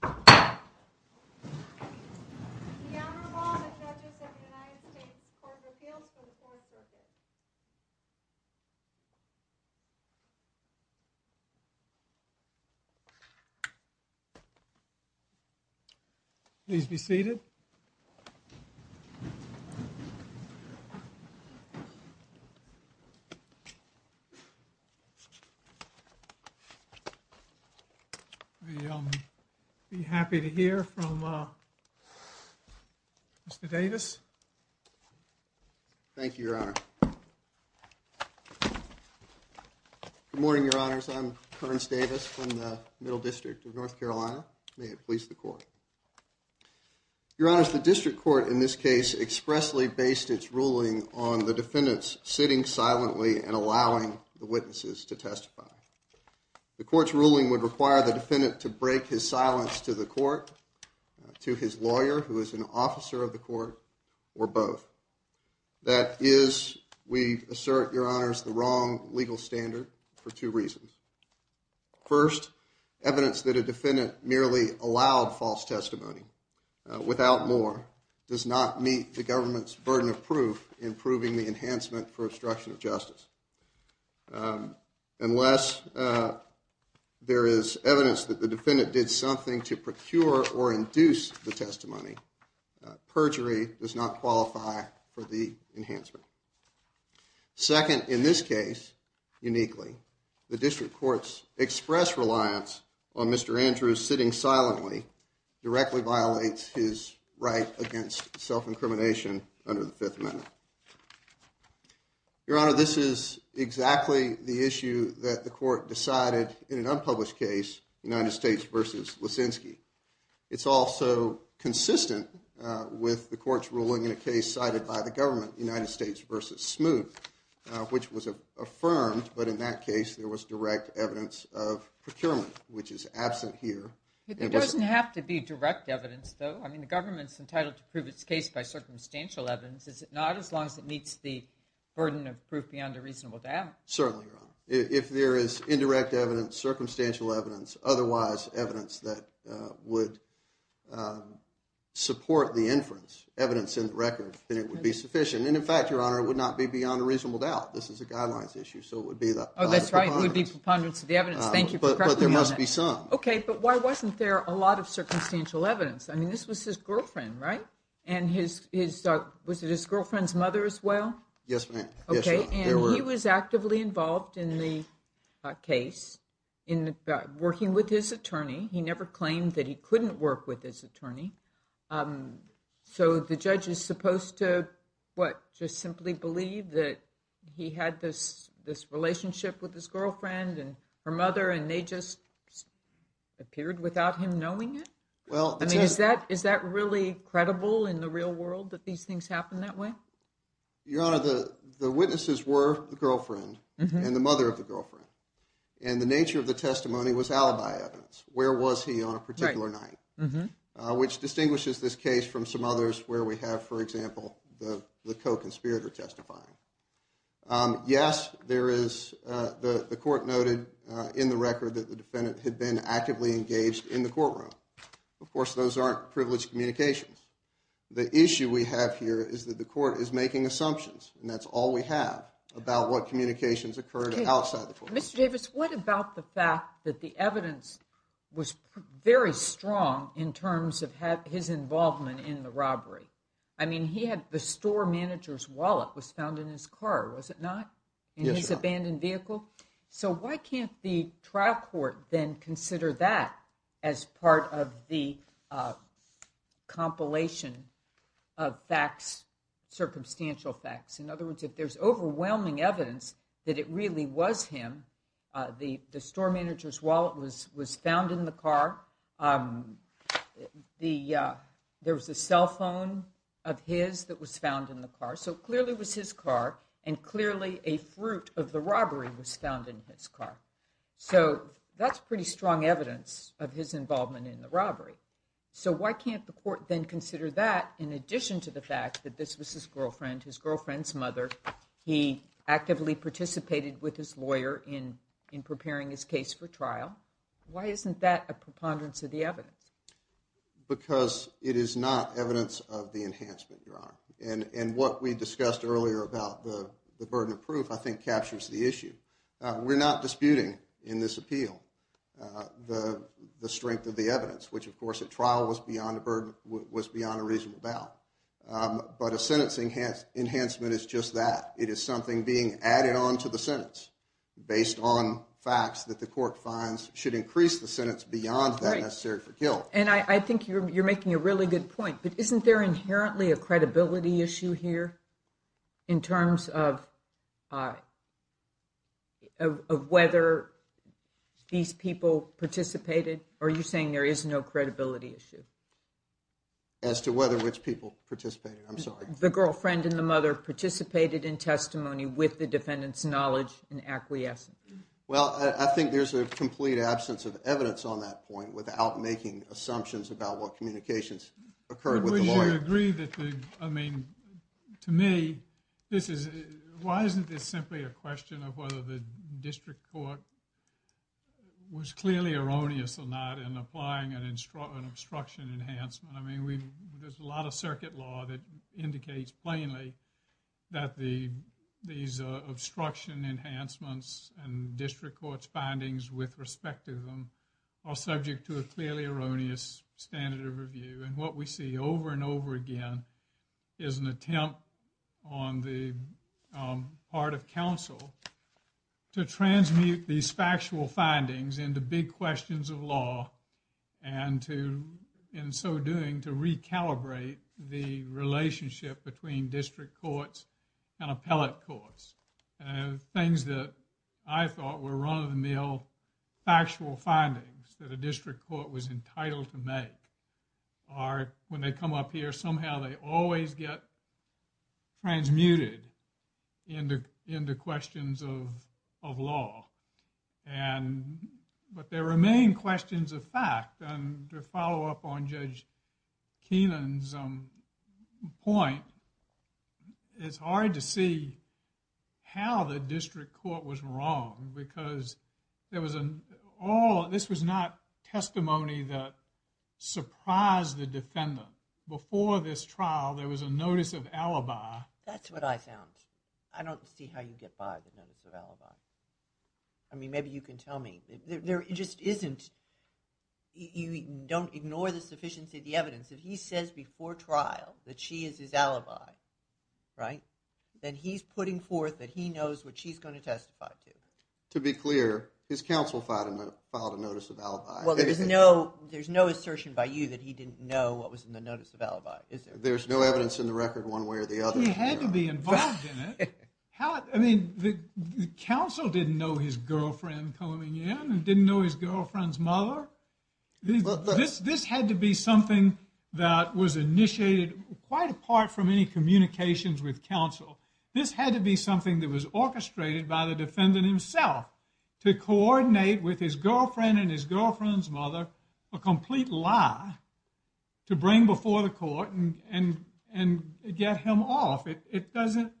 The Honorable and Judges of the United States Court of Appeals for the Fourth Circuit Please be seated We'll be happy to hear from Mr. Davis. Thank you, Your Honor. Good morning, Your Honors. I'm Kearns Davis from the Middle District of North Carolina. May it please the Court. Your Honors, the District Court in this case expressly based its ruling on the defendants sitting silently and allowing the witnesses to testify. The court's ruling would require the defendant to break his silence to the court, to his lawyer, who is an officer of the court, or both. That is, we assert, Your Honors, the wrong legal standard for two reasons. First, evidence that a defendant merely allowed false testimony, without more, does not meet the government's burden of proof in proving the enhancement for obstruction of justice. Unless there is evidence that the defendant did something to procure or induce the testimony, perjury does not qualify for the enhancement. Second, in this case, uniquely, the District Court's express reliance on Mr. Andrews sitting silently directly violates his right against self-incrimination under the Fifth Amendment. Your Honor, this is exactly the issue that the court decided in an unpublished case, United States v. Lisinski. It's also consistent with the court's ruling in a case cited by the government, United States v. Smoot, which was affirmed, but in that case there was direct evidence of procurement, which is absent here. It doesn't have to be direct evidence, though. I mean, the government's entitled to prove its case by circumstantial evidence, is it not, as long as it meets the burden of proof beyond a reasonable doubt? Certainly, Your Honor. If there is indirect evidence, circumstantial evidence, otherwise evidence that would support the inference, evidence in the record, then it would be sufficient. And, in fact, Your Honor, it would not be beyond a reasonable doubt. This is a guidelines issue, so it would be the honest preponderance. Oh, that's right. It would be preponderance of the evidence. Thank you for questioning on that. But there must be some. Okay, but why wasn't there a lot of circumstantial evidence? I mean, this was his girlfriend, right? And his, was it his girlfriend's mother as well? Yes, ma'am. Yes, ma'am. Okay, and he was actively involved in the case in working with his attorney. He never claimed that he couldn't work with his attorney. So the judge is supposed to, what, just simply believe that he had this relationship with his girlfriend and her mother and they just appeared without him knowing it? Well, that's right. I mean, is that really credible in the real world, that these things happen that way? Your Honor, the witnesses were the girlfriend and the mother of the girlfriend. And the nature of the testimony was alibi evidence. Where was he on a particular night? Right. Which distinguishes this case from some others where we have, for example, the co-conspirator testifying. Yes, there is, the court noted in the record that the defendant had been actively engaged in the courtroom. Of course, those aren't privileged communications. The issue we have here is that the court is making assumptions, and that's all we have about what communications occurred outside the courtroom. Mr. Davis, what about the fact that the evidence was very strong in terms of his involvement in the robbery? I mean, the store manager's wallet was found in his car, was it not? Yes, Your Honor. In his abandoned vehicle? So why can't the trial court then consider that as part of the compilation of facts, circumstantial facts? In other words, if there's overwhelming evidence that it really was him, the store manager's wallet was found in the car. There was a cell phone of his that was found in the car. So it clearly was his car, and clearly a fruit of the robbery was found in his car. So that's pretty strong evidence of his involvement in the robbery. So why can't the court then consider that in addition to the fact that this was his girlfriend, his girlfriend's mother? He actively participated with his lawyer in preparing his case for trial. Why isn't that a preponderance of the evidence? Because it is not evidence of the enhancement, Your Honor. And what we discussed earlier about the burden of proof I think captures the issue. We're not disputing in this appeal the strength of the evidence, which of course at trial was beyond a reasonable doubt. But a sentence enhancement is just that. It is something being added on to the sentence based on facts that the court finds should increase the sentence beyond that necessary for guilt. And I think you're making a really good point. But isn't there inherently a credibility issue here in terms of whether these people participated? Are you saying there is no credibility issue? As to whether which people participated, I'm sorry. The girlfriend and the mother participated in testimony with the defendant's knowledge and acquiescence. Well, I think there's a complete absence of evidence on that point without making assumptions about what communications occurred with the lawyer. We should agree that the, I mean, to me, this is, why isn't this simply a question of whether the district court was clearly erroneous or not in applying an obstruction enhancement? I mean, there's a lot of circuit law that indicates plainly that these obstruction enhancements and district court's findings with respect to them are subject to a clearly erroneous standard of review. And what we see over and over again is an attempt on the part of counsel to transmute these factual findings into big questions of law and to, in so doing, to recalibrate the relationship between district courts and appellate courts. Things that I thought were run-of-the-mill factual findings that a district court was entitled to make are, when they come up here, somehow they always get transmuted into questions of law. And, but there remain questions of fact and to follow up on Judge Keenan's point, it's hard to see how the district court was wrong because there was an, all, this was not testimony that surprised the defendant. Before this trial, there was a notice of alibi. That's what I found. I don't see how you get by the notice of alibi. I mean, maybe you can tell me. There just isn't, you don't ignore the sufficiency of the evidence. If he says before trial that she is his alibi, right, then he's putting forth that he knows what she's going to testify to. To be clear, his counsel filed a notice of alibi. Well, there's no, there's no assertion by you that he didn't know what was in the notice of alibi, is there? There's no evidence in the record one way or the other. He had to be involved in it. How, I mean, the counsel didn't know his girlfriend coming in and didn't know his girlfriend's mother. This had to be something that was initiated quite apart from any communications with counsel. This had to be something that was orchestrated by the defendant himself to coordinate with his girlfriend and his girlfriend's mother a complete lie to bring before the court and get him off. It doesn't,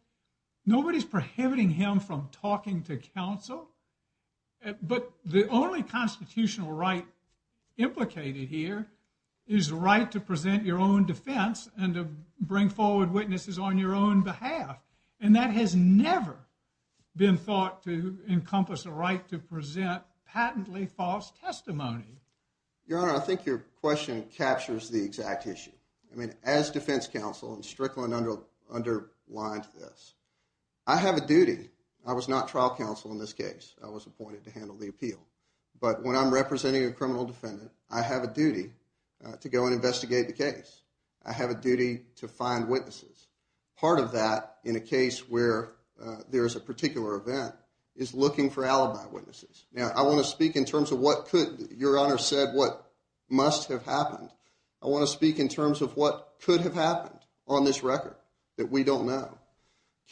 nobody's prohibiting him from talking to counsel. But the only constitutional right implicated here is the right to present your own defense and to bring forward witnesses on your own behalf. And that has never been thought to encompass the right to present patently false testimony. Your Honor, I think your question captures the exact issue. I mean, as defense counsel, and Strickland underlined this, I have a duty. I was not trial counsel in this case. I was appointed to handle the appeal. But when I'm representing a criminal defendant, I have a duty to go and investigate the case. I have a duty to find witnesses. Part of that in a case where there is a particular event is looking for alibi witnesses. Now, I want to speak in terms of what could, your Honor said what must have happened. I want to speak in terms of what could have happened on this record that we don't know.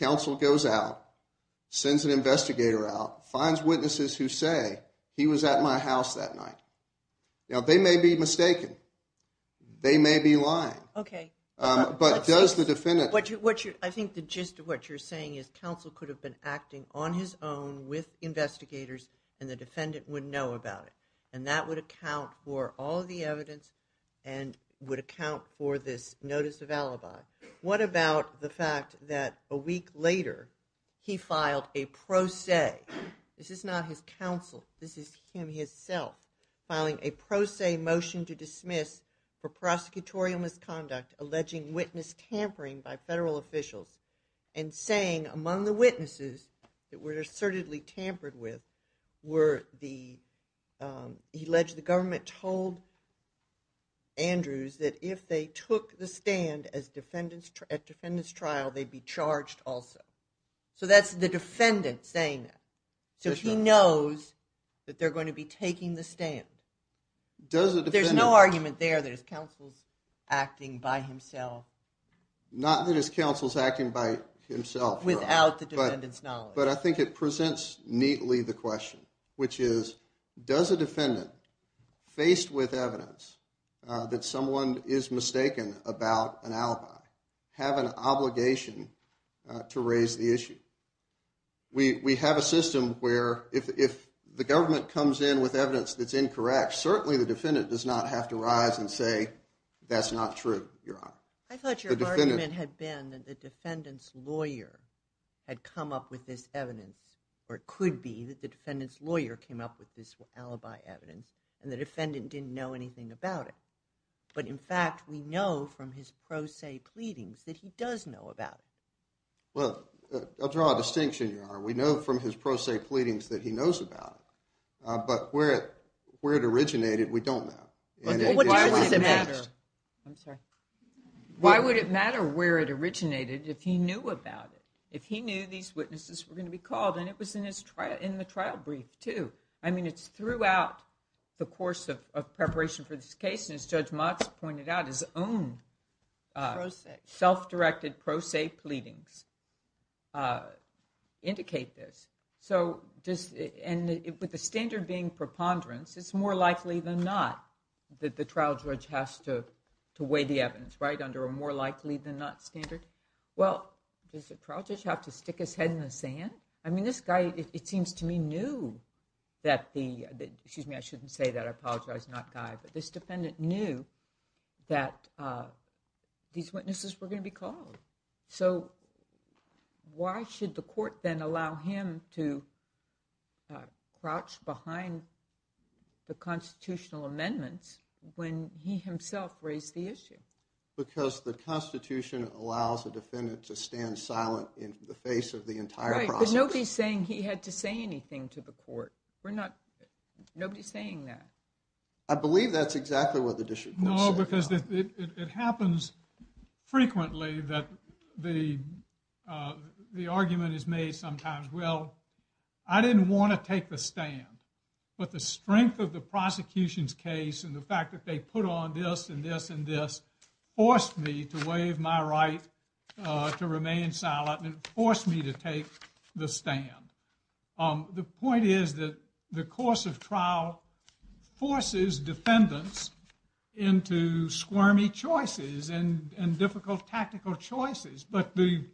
Counsel goes out, sends an investigator out, finds witnesses who say he was at my house that night. Now, they may be mistaken. They may be lying. Okay. But does the defendant. I think the gist of what you're saying is counsel could have been acting on his own with investigators and the defendant would know about it. And that would account for all the evidence and would account for this notice of alibi. What about the fact that a week later he filed a pro se. This is not his counsel. This is him himself filing a pro se motion to dismiss for prosecutorial misconduct alleging witness tampering by federal officials and saying among the witnesses that were assertedly tampered with were the alleged the government told Andrews that if they took the stand as defendants at defendants trial, they'd be charged also. So, that's the defendant saying that. So, he knows that they're going to be taking the stand. Does the defendant. There's no argument there that his counsel's acting by himself. Not that his counsel's acting by himself. Without the defendant's knowledge. But I think it presents neatly the question, which is, does a defendant faced with evidence that someone is mistaken about an alibi have an obligation to raise the issue? We have a system where if the government comes in with evidence that's incorrect, certainly the defendant does not have to rise and say that's not true, Your Honor. I thought your argument had been that the defendant's lawyer had come up with this evidence. Or it could be that the defendant's lawyer came up with this alibi evidence and the defendant didn't know anything about it. But, in fact, we know from his pro se pleadings that he does know about it. Well, I'll draw a distinction, Your Honor. We know from his pro se pleadings that he knows about it. But where it originated, we don't know. I'm sorry. Why would it matter where it originated if he knew about it? If he knew these witnesses were going to be called, and it was in the trial brief, too. I mean, it's throughout the course of preparation for this case, as Judge Motz pointed out, his own self-directed pro se pleadings indicate this. And with the standard being preponderance, it's more likely than not that the trial judge has to weigh the evidence, right? Under a more likely than not standard. Well, does the trial judge have to stick his head in the sand? I mean, this guy, it seems to me, knew that the – excuse me, I shouldn't say that. I apologize. Not guy. But this defendant knew that these witnesses were going to be called. So why should the court then allow him to crouch behind the constitutional amendments when he himself raised the issue? Because the Constitution allows a defendant to stand silent in the face of the entire process. Right, but nobody's saying he had to say anything to the court. We're not – nobody's saying that. I believe that's exactly what the district court said. No, because it happens frequently that the argument is made sometimes, well, I didn't want to take the stand. But the strength of the prosecution's case and the fact that they put on this and this and this forced me to waive my right to remain silent and forced me to take the stand. The point is that the course of trial forces defendants into squirmy choices and difficult tactical choices. But the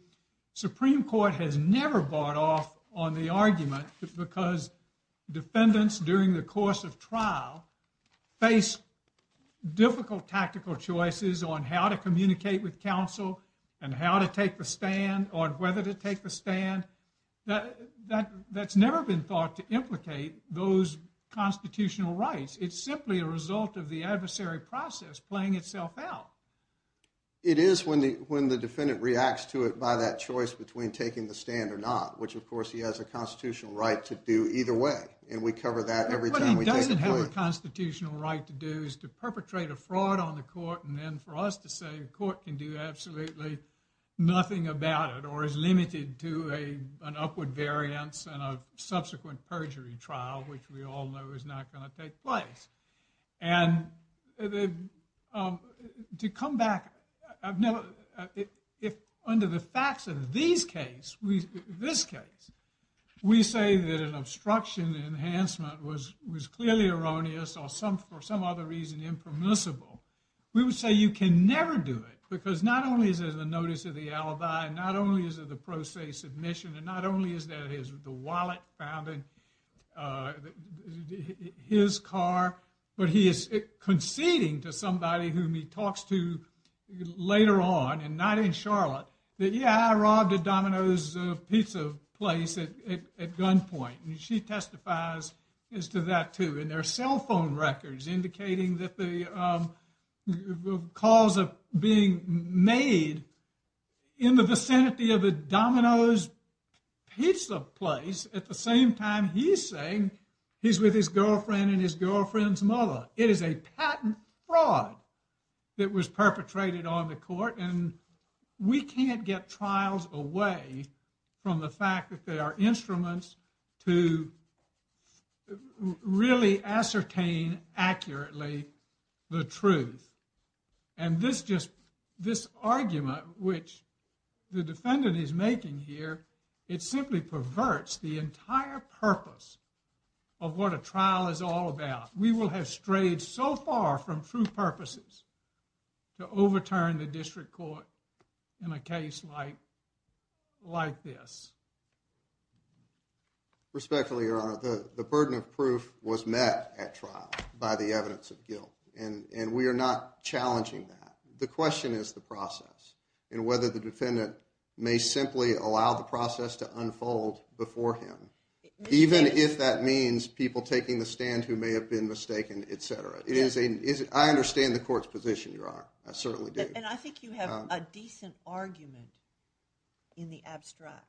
Supreme Court has never bought off on the argument because defendants during the course of trial face difficult tactical choices on how to communicate with counsel and how to take the stand or whether to take the stand. That's never been thought to implicate those constitutional rights. It's simply a result of the adversary process playing itself out. It is when the defendant reacts to it by that choice between taking the stand or not, which, of course, he has a constitutional right to do either way. And we cover that every time we take the plea. What he doesn't have a constitutional right to do is to perpetrate a fraud on the court and then for us to say the court can do absolutely nothing about it or is limited to an upward variance and a subsequent perjury trial, which we all know is not going to take place. And to come back, under the facts of this case, we say that an obstruction enhancement was clearly erroneous or for some other reason impermissible. We would say you can never do it because not only is it a notice of the alibi, not only is it the pro se submission, and not only is that the wallet found in his car, but he is conceding to somebody whom he talks to later on and not in Charlotte that, yeah, I robbed a Domino's pizza place at gunpoint. And she testifies as to that, too, in their cell phone records, indicating that the calls are being made in the vicinity of a Domino's pizza place at the same time he's saying he's with his girlfriend and his girlfriend's mother. It is a patent fraud that was perpetrated on the court and we can't get trials away from the fact that they are instruments to really ascertain accurately the truth. And this just, this argument which the defendant is making here, it simply perverts the entire purpose of what a trial is all about. We will have strayed so far from true purposes to overturn the district court in a case like this. Respectfully, your honor, the burden of proof was met at trial by the evidence of guilt, and we are not challenging that. The question is the process and whether the defendant may simply allow the process to unfold before him, even if that means people taking the stand who may have been mistaken, etc. I understand the court's position, your honor. I certainly do. And I think you have a decent argument in the abstract.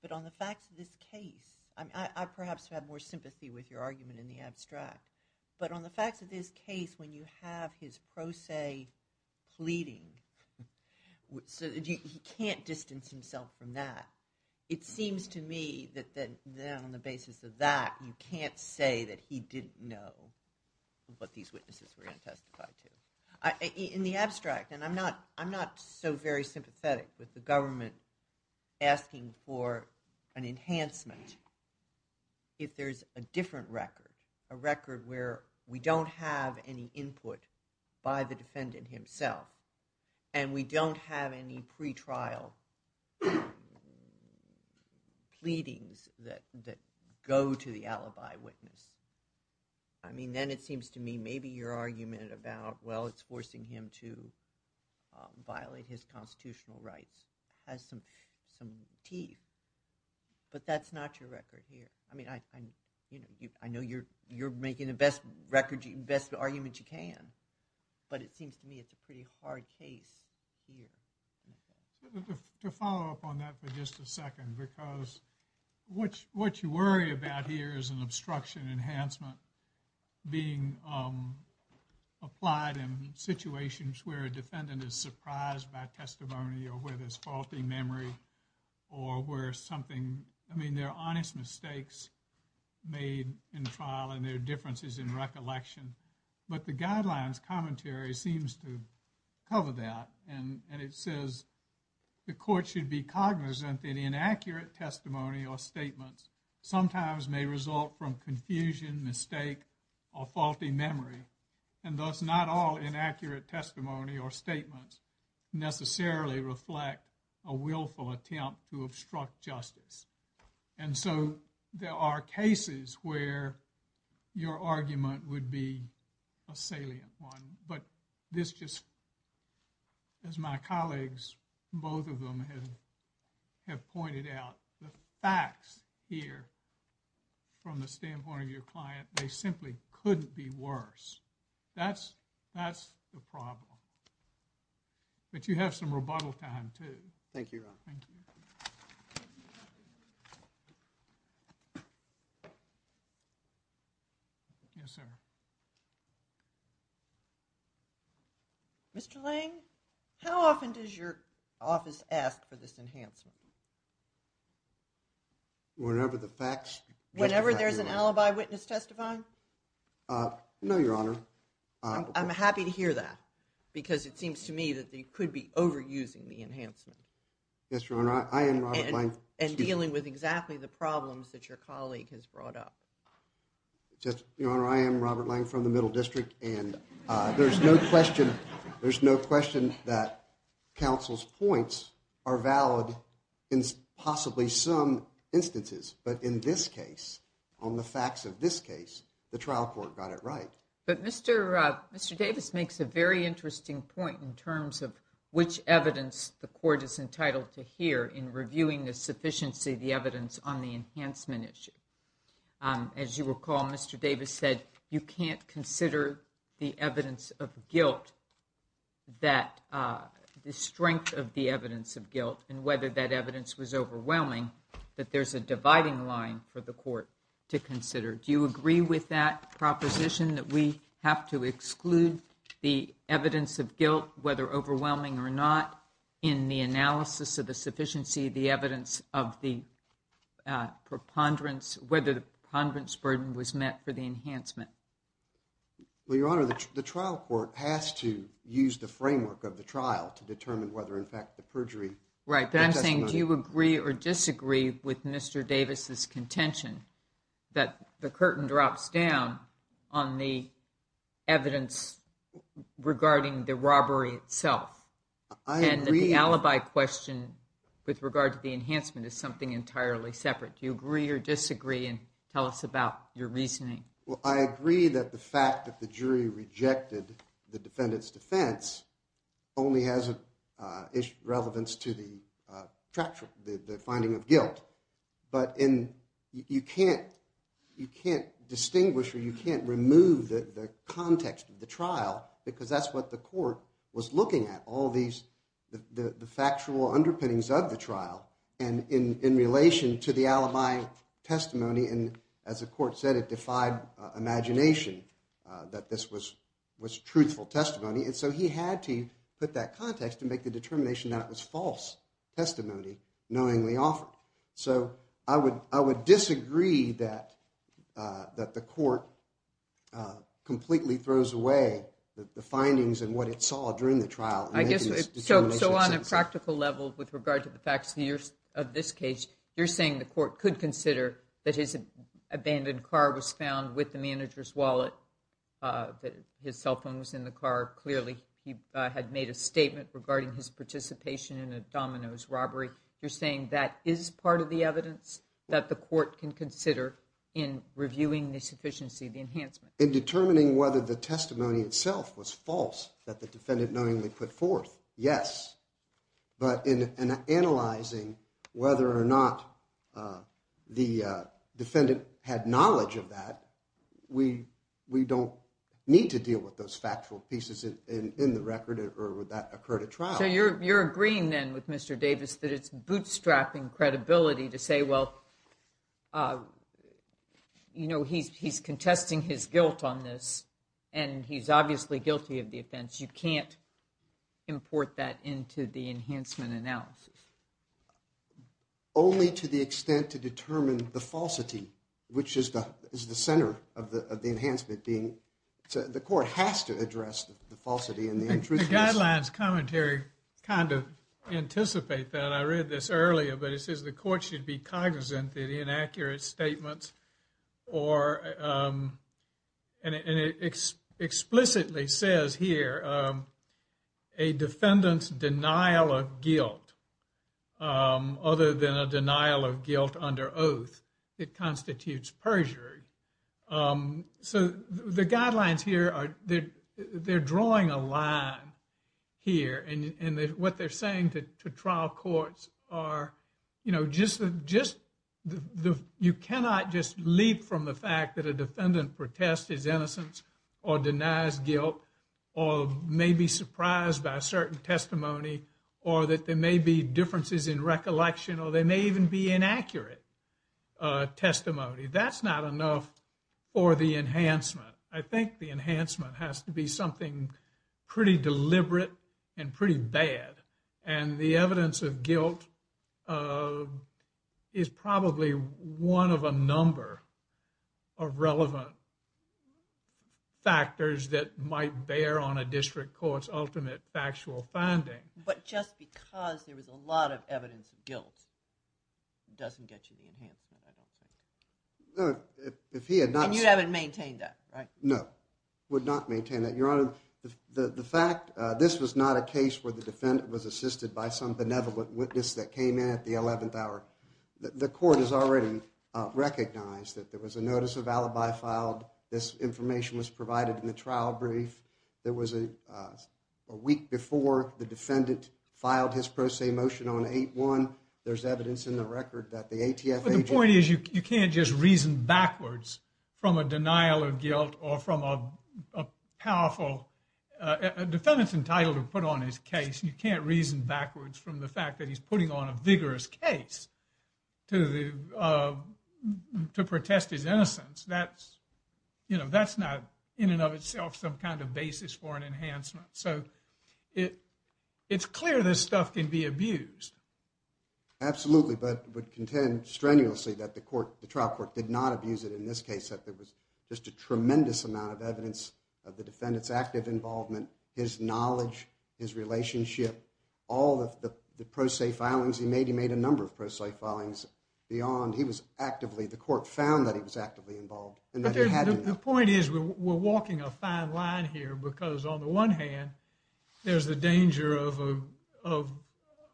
But on the facts of this case, I perhaps have more sympathy with your argument in the abstract. But on the facts of this case, when you have his pro se pleading, he can't distance himself from that. It seems to me that on the basis of that, you can't say that he didn't know what these witnesses were going to testify to. In the abstract, and I'm not so very sympathetic with the government asking for an enhancement if there's a different record, a record where we don't have any input by the defendant himself. And we don't have any pretrial pleadings that go to the alibi witness. I mean, then it seems to me maybe your argument about, well, it's forcing him to violate his constitutional rights has some teeth. But that's not your record here. I mean, I know you're making the best argument you can. But it seems to me it's a pretty hard case here. To follow up on that for just a second, because what you worry about here is an obstruction enhancement being applied in situations where a defendant is surprised by testimony or where there's faulty memory or where something, I mean, there are honest mistakes made in trial and there are differences in recollection. But the guidelines commentary seems to cover that. And it says the court should be cognizant that inaccurate testimony or statements sometimes may result from confusion, mistake, or faulty memory. And thus, not all inaccurate testimony or statements necessarily reflect a willful attempt to obstruct justice. And so, there are cases where your argument would be a salient one. But this just, as my colleagues, both of them have pointed out, the facts here from the standpoint of your client, they simply couldn't be worse. That's the problem. But you have some rebuttal time, too. Thank you, Your Honor. Thank you. Yes, sir. Mr. Lang, how often does your office ask for this enhancement? Whenever the facts… Whenever there's an alibi witness testifying? No, Your Honor. I'm happy to hear that because it seems to me that they could be overusing the enhancement. Yes, Your Honor. I am Robert Lang. And dealing with exactly the problems that your colleague has brought up. Your Honor, I am Robert Lang from the Middle District, and there's no question that counsel's points are valid in possibly some instances. But in this case, on the facts of this case, the trial court got it right. But Mr. Davis makes a very interesting point in terms of which evidence the court is entitled to hear in reviewing the sufficiency of the evidence on the enhancement issue. As you recall, Mr. Davis said you can't consider the evidence of guilt, the strength of the evidence of guilt, and whether that evidence was overwhelming, that there's a dividing line for the court to consider. Do you agree with that proposition that we have to exclude the evidence of guilt, whether overwhelming or not, in the analysis of the sufficiency of the evidence of the preponderance, whether the preponderance burden was met for the enhancement? Well, Your Honor, the trial court has to use the framework of the trial to determine whether, in fact, the perjury… Right, but I'm saying, do you agree or disagree with Mr. Davis's contention that the curtain drops down on the evidence regarding the robbery itself? And the alibi question with regard to the enhancement is something entirely separate. Do you agree or disagree? And tell us about your reasoning. Well, I agree that the fact that the jury rejected the defendant's defense only has relevance to the finding of guilt. But you can't distinguish or you can't remove the context of the trial because that's what the court was looking at, all the factual underpinnings of the trial. And in relation to the alibi testimony, as the court said, it defied imagination that this was truthful testimony. And so he had to put that context to make the determination that it was false testimony knowingly offered. So I would disagree that the court completely throws away the findings and what it saw during the trial. So on a practical level, with regard to the facts of this case, you're saying the court could consider that his abandoned car was found with the manager's wallet, that his cell phone was in the car. Clearly, he had made a statement regarding his participation in a dominoes robbery. You're saying that is part of the evidence that the court can consider in reviewing the sufficiency of the enhancement. In determining whether the testimony itself was false that the defendant knowingly put forth. Yes. But in analyzing whether or not the defendant had knowledge of that, we we don't need to deal with those factual pieces in the record or would that occur to trial. So you're you're agreeing then with Mr. Davis that it's bootstrapping credibility to say, well. You know, he's he's contesting his guilt on this and he's obviously guilty of the offense. You can't import that into the enhancement analysis. Only to the extent to determine the falsity, which is the is the center of the of the enhancement being the court has to address the falsity and the truth. Guidelines commentary kind of anticipate that. I read this earlier, but it says the court should be cognizant that inaccurate statements or. And it explicitly says here. A defendant's denial of guilt. Other than a denial of guilt under oath, it constitutes perjury. So the guidelines here are that they're drawing a line. Here and what they're saying to trial courts are, you know, just just the you cannot just leap from the fact that a defendant protest his innocence or denies guilt. Or maybe surprised by a certain testimony, or that there may be differences in recollection, or they may even be inaccurate. Testimony, that's not enough for the enhancement. I think the enhancement has to be something pretty deliberate and pretty bad. And the evidence of guilt is probably one of a number. Of relevant factors that might bear on a district court's ultimate factual finding. But just because there was a lot of evidence of guilt. Doesn't get you the enhancement, I don't think. If he had not, you haven't maintained that, right? No. Would not maintain that your honor. The fact this was not a case where the defendant was assisted by some benevolent witness that came in at the 11th hour. The court has already recognized that there was a notice of alibi filed. This information was provided in the trial brief. There was a week before the defendant filed his pro se motion on 8-1. There's evidence in the record that the ATF. The point is, you can't just reason backwards from a denial of guilt or from a powerful defendant's entitled to put on his case. You can't reason backwards from the fact that he's putting on a vigorous case. To the to protest his innocence, that's. You know, that's not in and of itself, some kind of basis for an enhancement. So it. It's clear this stuff can be abused. Absolutely, but would contend strenuously that the court, the trial court did not abuse it in this case that there was. Just a tremendous amount of evidence of the defendant's active involvement. His knowledge, his relationship, all of the pro se filings he made, he made a number of pro se filings beyond. He was actively the court found that he was actively involved. And the point is, we're walking a fine line here because on the one hand, there's the danger of a of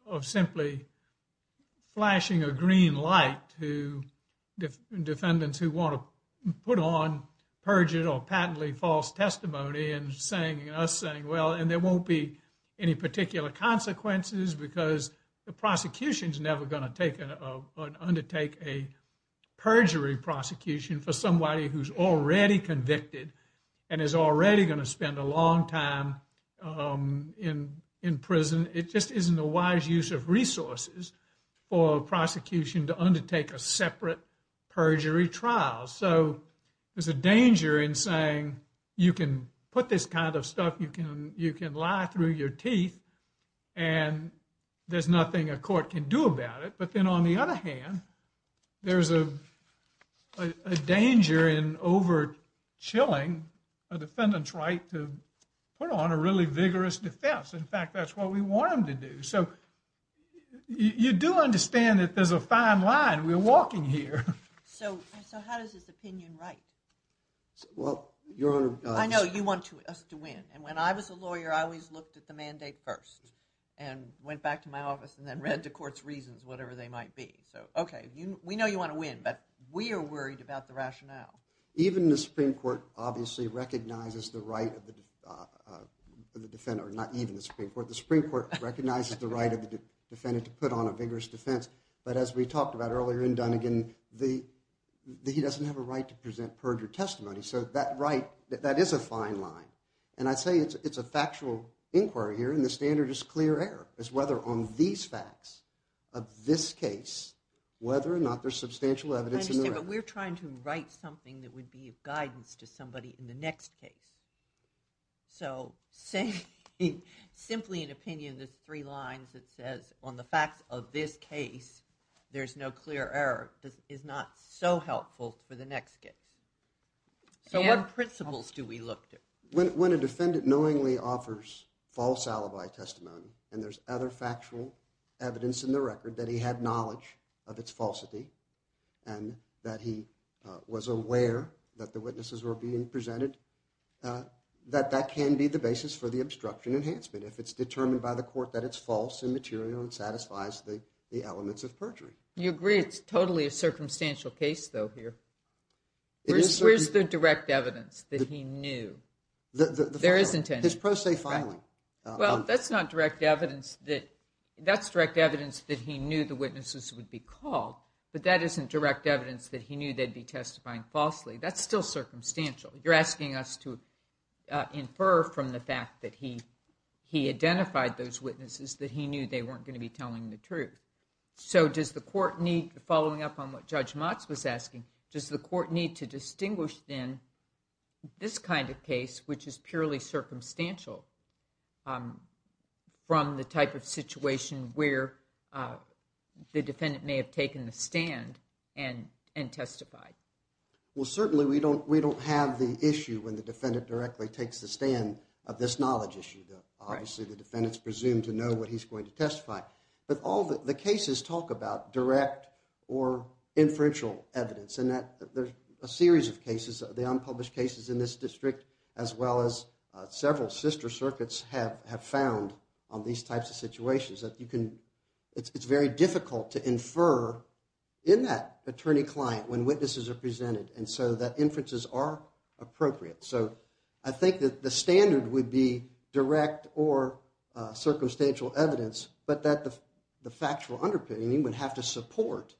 of simply. Flashing a green light to defendants who want to put on perjured or patently false testimony and saying us saying, well, and there won't be any particular consequences because the prosecution is never going to take an undertake a. Perjury prosecution for somebody who's already convicted. And is already going to spend a long time in in prison. It just isn't a wise use of resources for prosecution to undertake a separate perjury trial. So there's a danger in saying you can put this kind of stuff. You can, you can lie through your teeth. And there's nothing a court can do about it. But then, on the other hand. There's a danger in over chilling a defendant's right to put on a really vigorous defense. In fact, that's what we want them to do. So. You do understand that there's a fine line. We're walking here. So, so how does this opinion, right? Well, your honor, I know you want us to win and when I was a lawyer, I always looked at the mandate 1st. And went back to my office and then read the court's reasons, whatever they might be. So, okay, we know you want to win, but we are worried about the rationale. Even the Supreme Court obviously recognizes the right of the. The defendant or not even the Supreme Court, the Supreme Court recognizes the right of the defendant to put on a vigorous defense. But as we talked about earlier in Dunnigan, the. He doesn't have a right to present perjured testimony. So that right that is a fine line. And I'd say it's a factual inquiry here and the standard is clear error is whether on these facts. Of this case, whether or not there's substantial evidence, but we're trying to write something that would be of guidance to somebody in the next case. So, say simply an opinion, there's 3 lines that says on the facts of this case, there's no clear error. This is not so helpful for the next case. So, what principles do we look to when a defendant knowingly offers false alibi testimony and there's other factual. Evidence in the record that he had knowledge of its falsity. And that he was aware that the witnesses were being presented that that can be the basis for the obstruction enhancement. If it's determined by the court that it's false and material and satisfies the elements of perjury. You agree it's totally a circumstantial case though here. Where's the direct evidence that he knew there is intent is pro se filing. Well, that's not direct evidence that that's direct evidence that he knew the witnesses would be called. But that isn't direct evidence that he knew they'd be testifying falsely. That's still circumstantial. You're asking us to infer from the fact that he. He identified those witnesses that he knew they weren't going to be telling the truth. So, does the court need following up on what judge was asking? Does the court need to distinguish then? This kind of case, which is purely circumstantial. From the type of situation where the defendant may have taken the stand and and testify. Well, certainly we don't we don't have the issue when the defendant directly takes the stand of this knowledge issue. Obviously, the defendants presumed to know what he's going to testify. But all the cases talk about direct or inferential evidence and that there's a series of cases of the unpublished cases in this district. As well as several sister circuits have have found on these types of situations that you can. It's very difficult to infer in that attorney client when witnesses are presented and so that inferences are appropriate. So, I think that the standard would be direct or circumstantial evidence, but that the factual underpinning would have to support.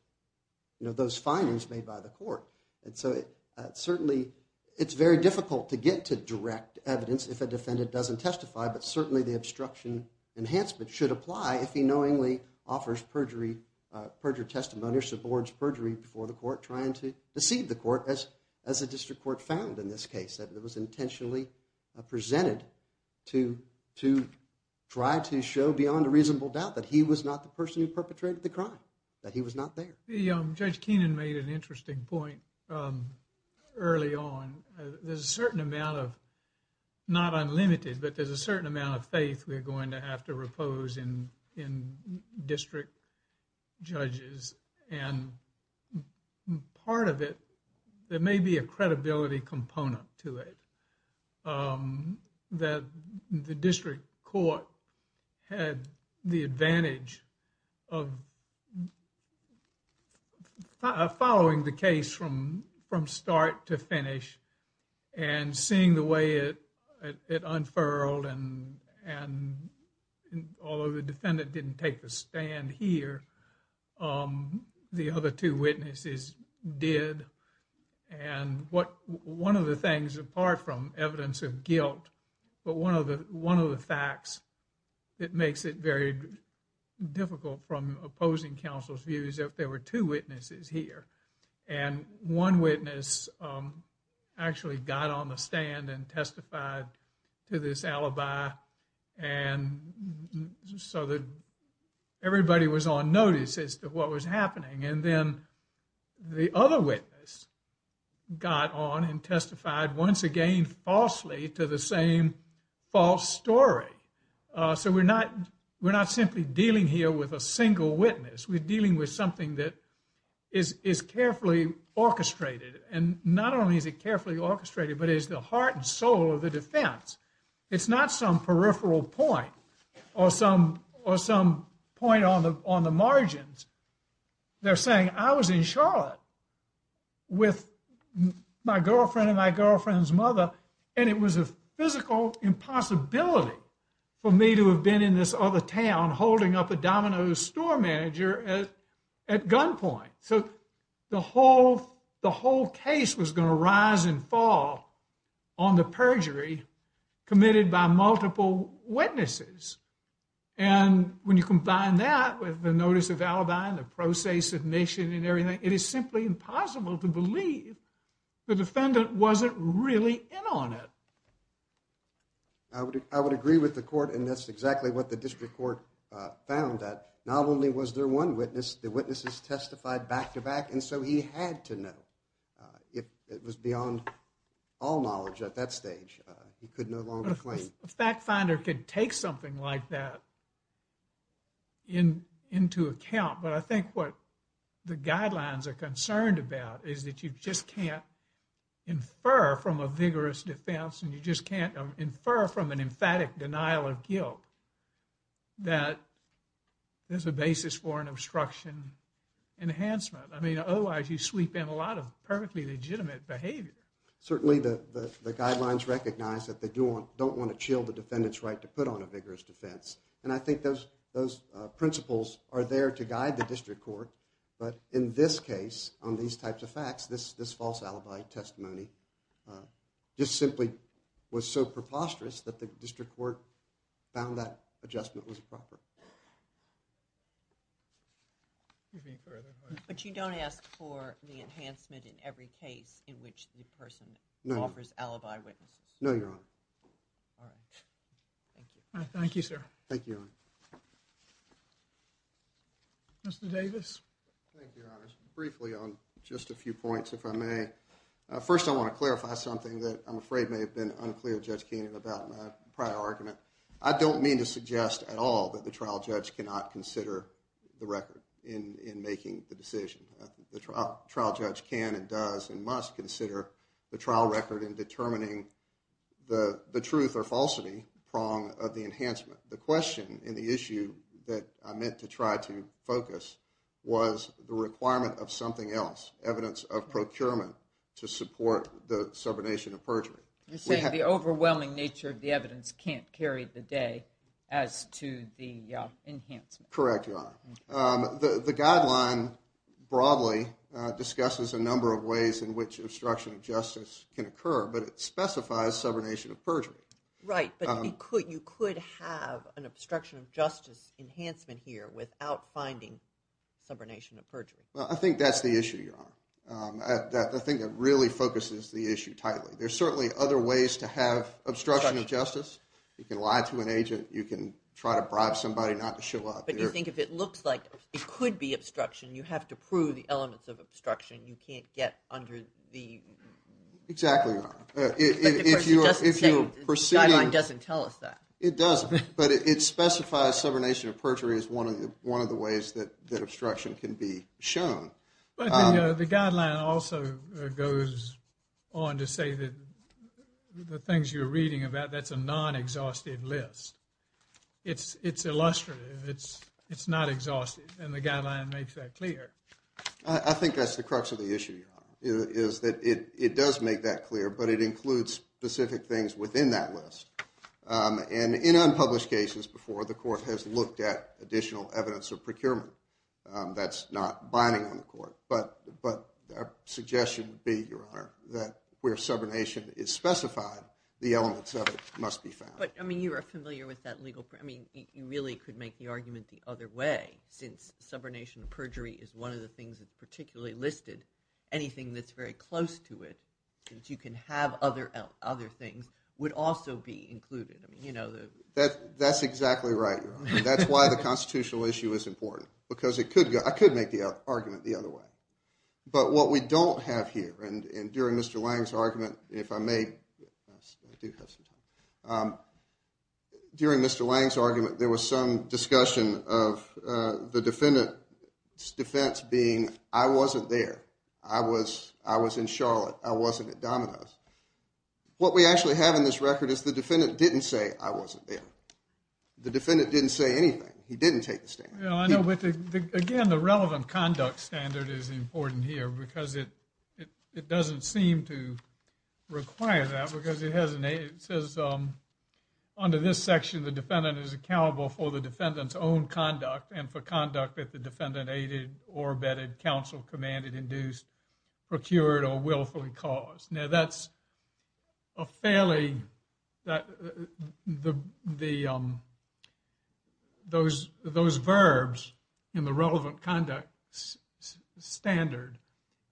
You know, those findings made by the court and so it certainly it's very difficult to get to direct evidence. If a defendant doesn't testify, but certainly the obstruction enhancement should apply. If he knowingly offers perjury perjure testimony or subords perjury before the court trying to deceive the court as as a district court found in this case. It was intentionally presented to to try to show beyond a reasonable doubt that he was not the person who perpetrated the crime that he was not there. The judge Keenan made an interesting point early on. There's a certain amount of not unlimited, but there's a certain amount of faith. We're going to have to repose in in district judges and part of it. There may be a credibility component to it that the district court had the advantage of following the case from from start to finish and seeing the way it unfurled and and all of the defendant didn't take a stand here. The other 2 witnesses did and what 1 of the things apart from evidence of guilt, but 1 of the 1 of the facts. It makes it very difficult from opposing counsel's views. If there were 2 witnesses here. And 1 witness actually got on the stand and testified to this alibi and so that everybody was on notice as to what was happening. And then the other witness got on and testified once again, falsely to the same false story. So we're not we're not simply dealing here with a single witness. We're dealing with something that. Is is carefully orchestrated and not only is it carefully orchestrated, but is the heart and soul of the defense. It's not some peripheral point or some or some point on the on the margins. They're saying I was in Charlotte. With my girlfriend and my girlfriend's mother, and it was a physical impossibility. For me to have been in this other town, holding up a Domino's store manager at. At gunpoint, so the whole, the whole case was going to rise and fall. On the perjury committed by multiple witnesses. And when you combine that with the notice of alibi and the process of nation and everything, it is simply impossible to believe. The defendant wasn't really in on it. I would, I would agree with the court and that's exactly what the district court found that not only was there 1 witness, the witnesses testified back to back and so he had to know. It was beyond all knowledge at that stage. He could no longer claim fact finder could take something like that. In into account, but I think what the guidelines are concerned about is that you just can't infer from a vigorous defense and you just can't infer from an emphatic denial of guilt. That. There's a basis for an obstruction enhancement. I mean, otherwise you sweep in a lot of perfectly legitimate behavior. Certainly the guidelines recognize that they don't want to chill the defendant's right to put on a vigorous defense. And I think those those principles are there to guide the district court. But in this case, on these types of facts, this this false alibi testimony just simply was so preposterous that the district court found that adjustment was proper. But you don't ask for the enhancement in every case in which the person offers alibi witnesses. No, you're on. All right. Thank you. Thank you, sir. Thank you. Mr. Davis, thank you. Briefly on just a few points, if I may. First, I want to clarify something that I'm afraid may have been unclear. Just came about my prior argument. I don't mean to suggest at all that the trial judge cannot consider the record in making the decision. The trial judge can and does and must consider the trial record in determining the truth or falsity prong of the enhancement. The question in the issue that I meant to try to focus was the requirement of something else, evidence of procurement to support the subordination of perjury. You say the overwhelming nature of the evidence can't carry the day as to the enhancement. Correct. The guideline broadly discusses a number of ways in which obstruction of justice can occur, but it specifies subordination of perjury. Right, but you could have an obstruction of justice enhancement here without finding subordination of perjury. Well, I think that's the issue, Your Honor. I think it really focuses the issue tightly. There's certainly other ways to have obstruction of justice. You can lie to an agent. You can try to bribe somebody not to show up. But you think if it looks like it could be obstruction, you have to prove the elements of obstruction. You can't get under the – Exactly, Your Honor. But the guideline doesn't tell us that. It doesn't, but it specifies subordination of perjury as one of the ways that obstruction can be shown. But the guideline also goes on to say that the things you're reading about, that's a non-exhausted list. It's illustrative. It's not exhausted, and the guideline makes that clear. I think that's the crux of the issue, Your Honor, is that it does make that clear, but it includes specific things within that list. And in unpublished cases before, the court has looked at additional evidence of procurement. That's not binding on the court. But our suggestion would be, Your Honor, that where subordination is specified, the elements of it must be found. But, I mean, you are familiar with that legal – I mean, you really could make the argument the other way. Since subordination of perjury is one of the things that's particularly listed, anything that's very close to it, since you can have other things, would also be included. That's exactly right, Your Honor. That's why the constitutional issue is important because it could – I could make the argument the other way. But what we don't have here, and during Mr. Lange's argument, if I may – I do have some time. During Mr. Lange's argument, there was some discussion of the defendant's defense being, I wasn't there. I was in Charlotte. I wasn't at Domino's. What we actually have in this record is the defendant didn't say, I wasn't there. The defendant didn't say anything. He didn't take the stand. I know, but, again, the relevant conduct standard is important here because it doesn't seem to require that because it says, under this section, the defendant is accountable for the defendant's own conduct and for conduct that the defendant aided or abetted, counseled, commanded, induced, procured, or willfully caused. Now, that's a fairly – those verbs in the relevant conduct standard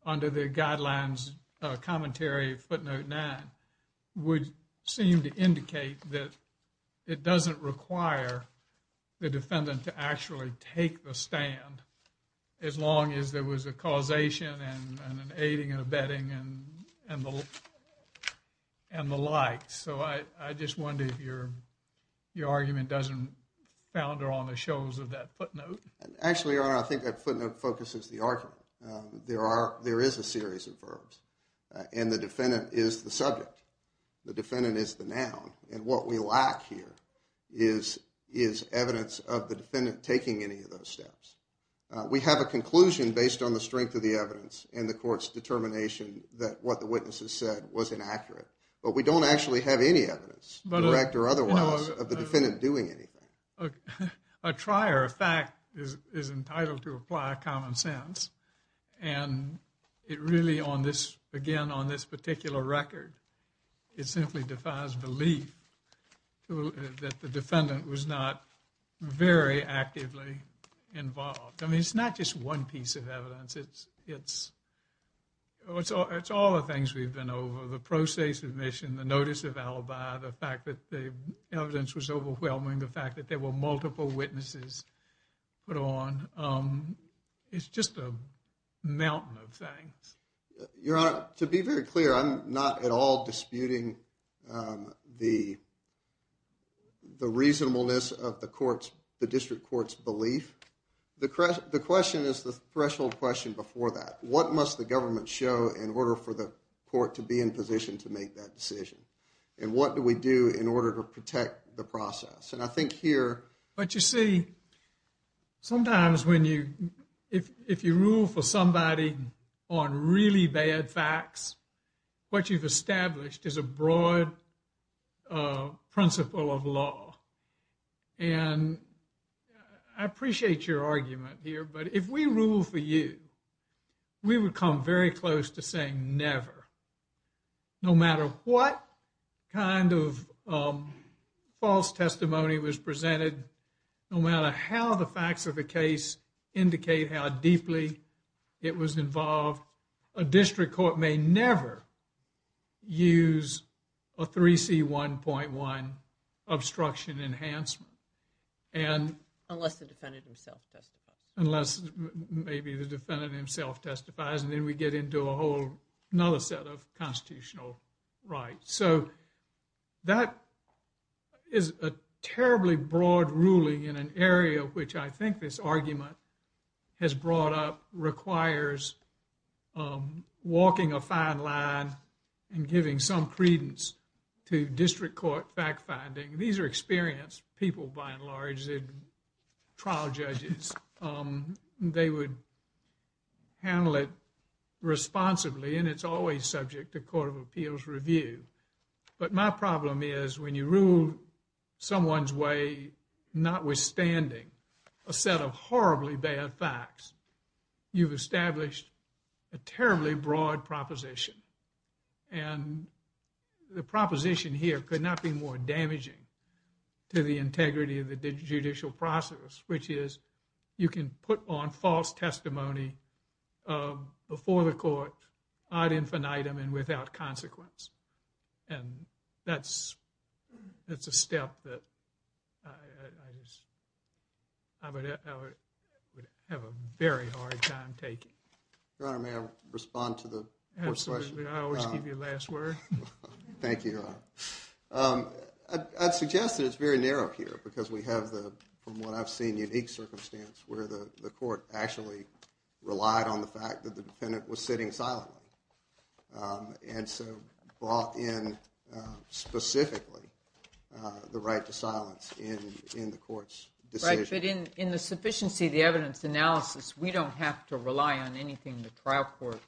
under the guidelines commentary of footnote 9 would seem to indicate that it doesn't require the defendant to actually take the stand as long as there was a causation and an aiding and abetting and the like. So I just wonder if your argument doesn't founder on the shoals of that footnote. Actually, Your Honor, I think that footnote focuses the argument. There is a series of verbs, and the defendant is the subject. The defendant is the noun, and what we lack here is evidence of the defendant taking any of those steps. We have a conclusion based on the strength of the evidence and the court's determination that what the witnesses said was inaccurate. But we don't actually have any evidence, direct or otherwise, of the defendant doing anything. A trier of fact is entitled to apply common sense. And it really, on this – again, on this particular record, it simply defies belief that the defendant was not very actively involved. I mean, it's not just one piece of evidence. It's all the things we've been over, the process of admission, the notice of alibi, the fact that the evidence was overwhelming, the fact that there were multiple witnesses put on. It's just a mountain of things. Your Honor, to be very clear, I'm not at all disputing the reasonableness of the district court's belief. The question is the threshold question before that. What must the government show in order for the court to be in position to make that decision? And what do we do in order to protect the process? And I think here – But you see, sometimes when you – if you rule for somebody on really bad facts, what you've established is a broad principle of law. And I appreciate your argument here, but if we rule for you, we would come very close to saying never. No matter what kind of false testimony was presented, no matter how the facts of the case indicate how deeply it was involved, a district court may never use a 3C1.1 obstruction enhancement. Unless the defendant himself testifies. Unless maybe the defendant himself testifies. And then we get into a whole other set of constitutional rights. So that is a terribly broad ruling in an area which I think this argument has brought up requires walking a fine line and giving some credence to district court fact-finding. These are experienced people, by and large, trial judges. They would handle it responsibly, and it's always subject to court of appeals review. But my problem is when you rule someone's way notwithstanding a set of horribly bad facts, you've established a terribly broad proposition. And the proposition here could not be more damaging to the integrity of the judicial process, which is you can put on false testimony before the court ad infinitum and without consequence. And that's a step that I would have a very hard time taking. Your Honor, may I respond to the court's question? Absolutely. I always give you the last word. Thank you, Your Honor. I'd suggest that it's very narrow here because we have the, from what I've seen, unique circumstance where the court actually relied on the fact that the defendant was sitting silently and so brought in specifically the right to silence in the court's decision. But in the sufficiency of the evidence analysis, we don't have to rely on anything the trial court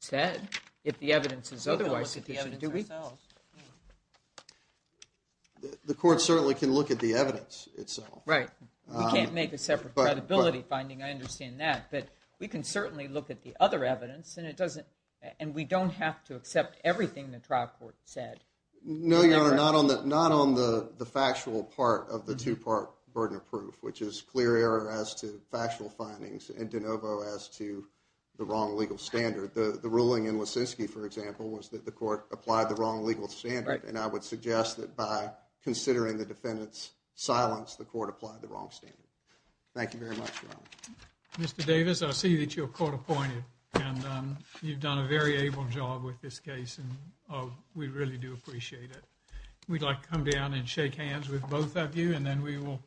said if the evidence is otherwise sufficient, do we? The court certainly can look at the evidence itself. Right. We can't make a separate credibility finding. I understand that. But we can certainly look at the other evidence, and we don't have to accept everything the trial court said. No, Your Honor, not on the factual part of the two-part burden of proof, which is clear error as to factual findings and de novo as to the wrong legal standard. The ruling in Lisinski, for example, was that the court applied the wrong legal standard, and I would suggest that by considering the defendant's silence, the court applied the wrong standard. Thank you very much, Your Honor. Mr. Davis, I see that you're court appointed, and you've done a very able job with this case, and we really do appreciate it. We'd like to come down and shake hands with both of you, and then we will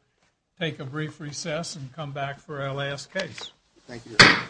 take a brief recess and come back for our last case. Thank you, Your Honor.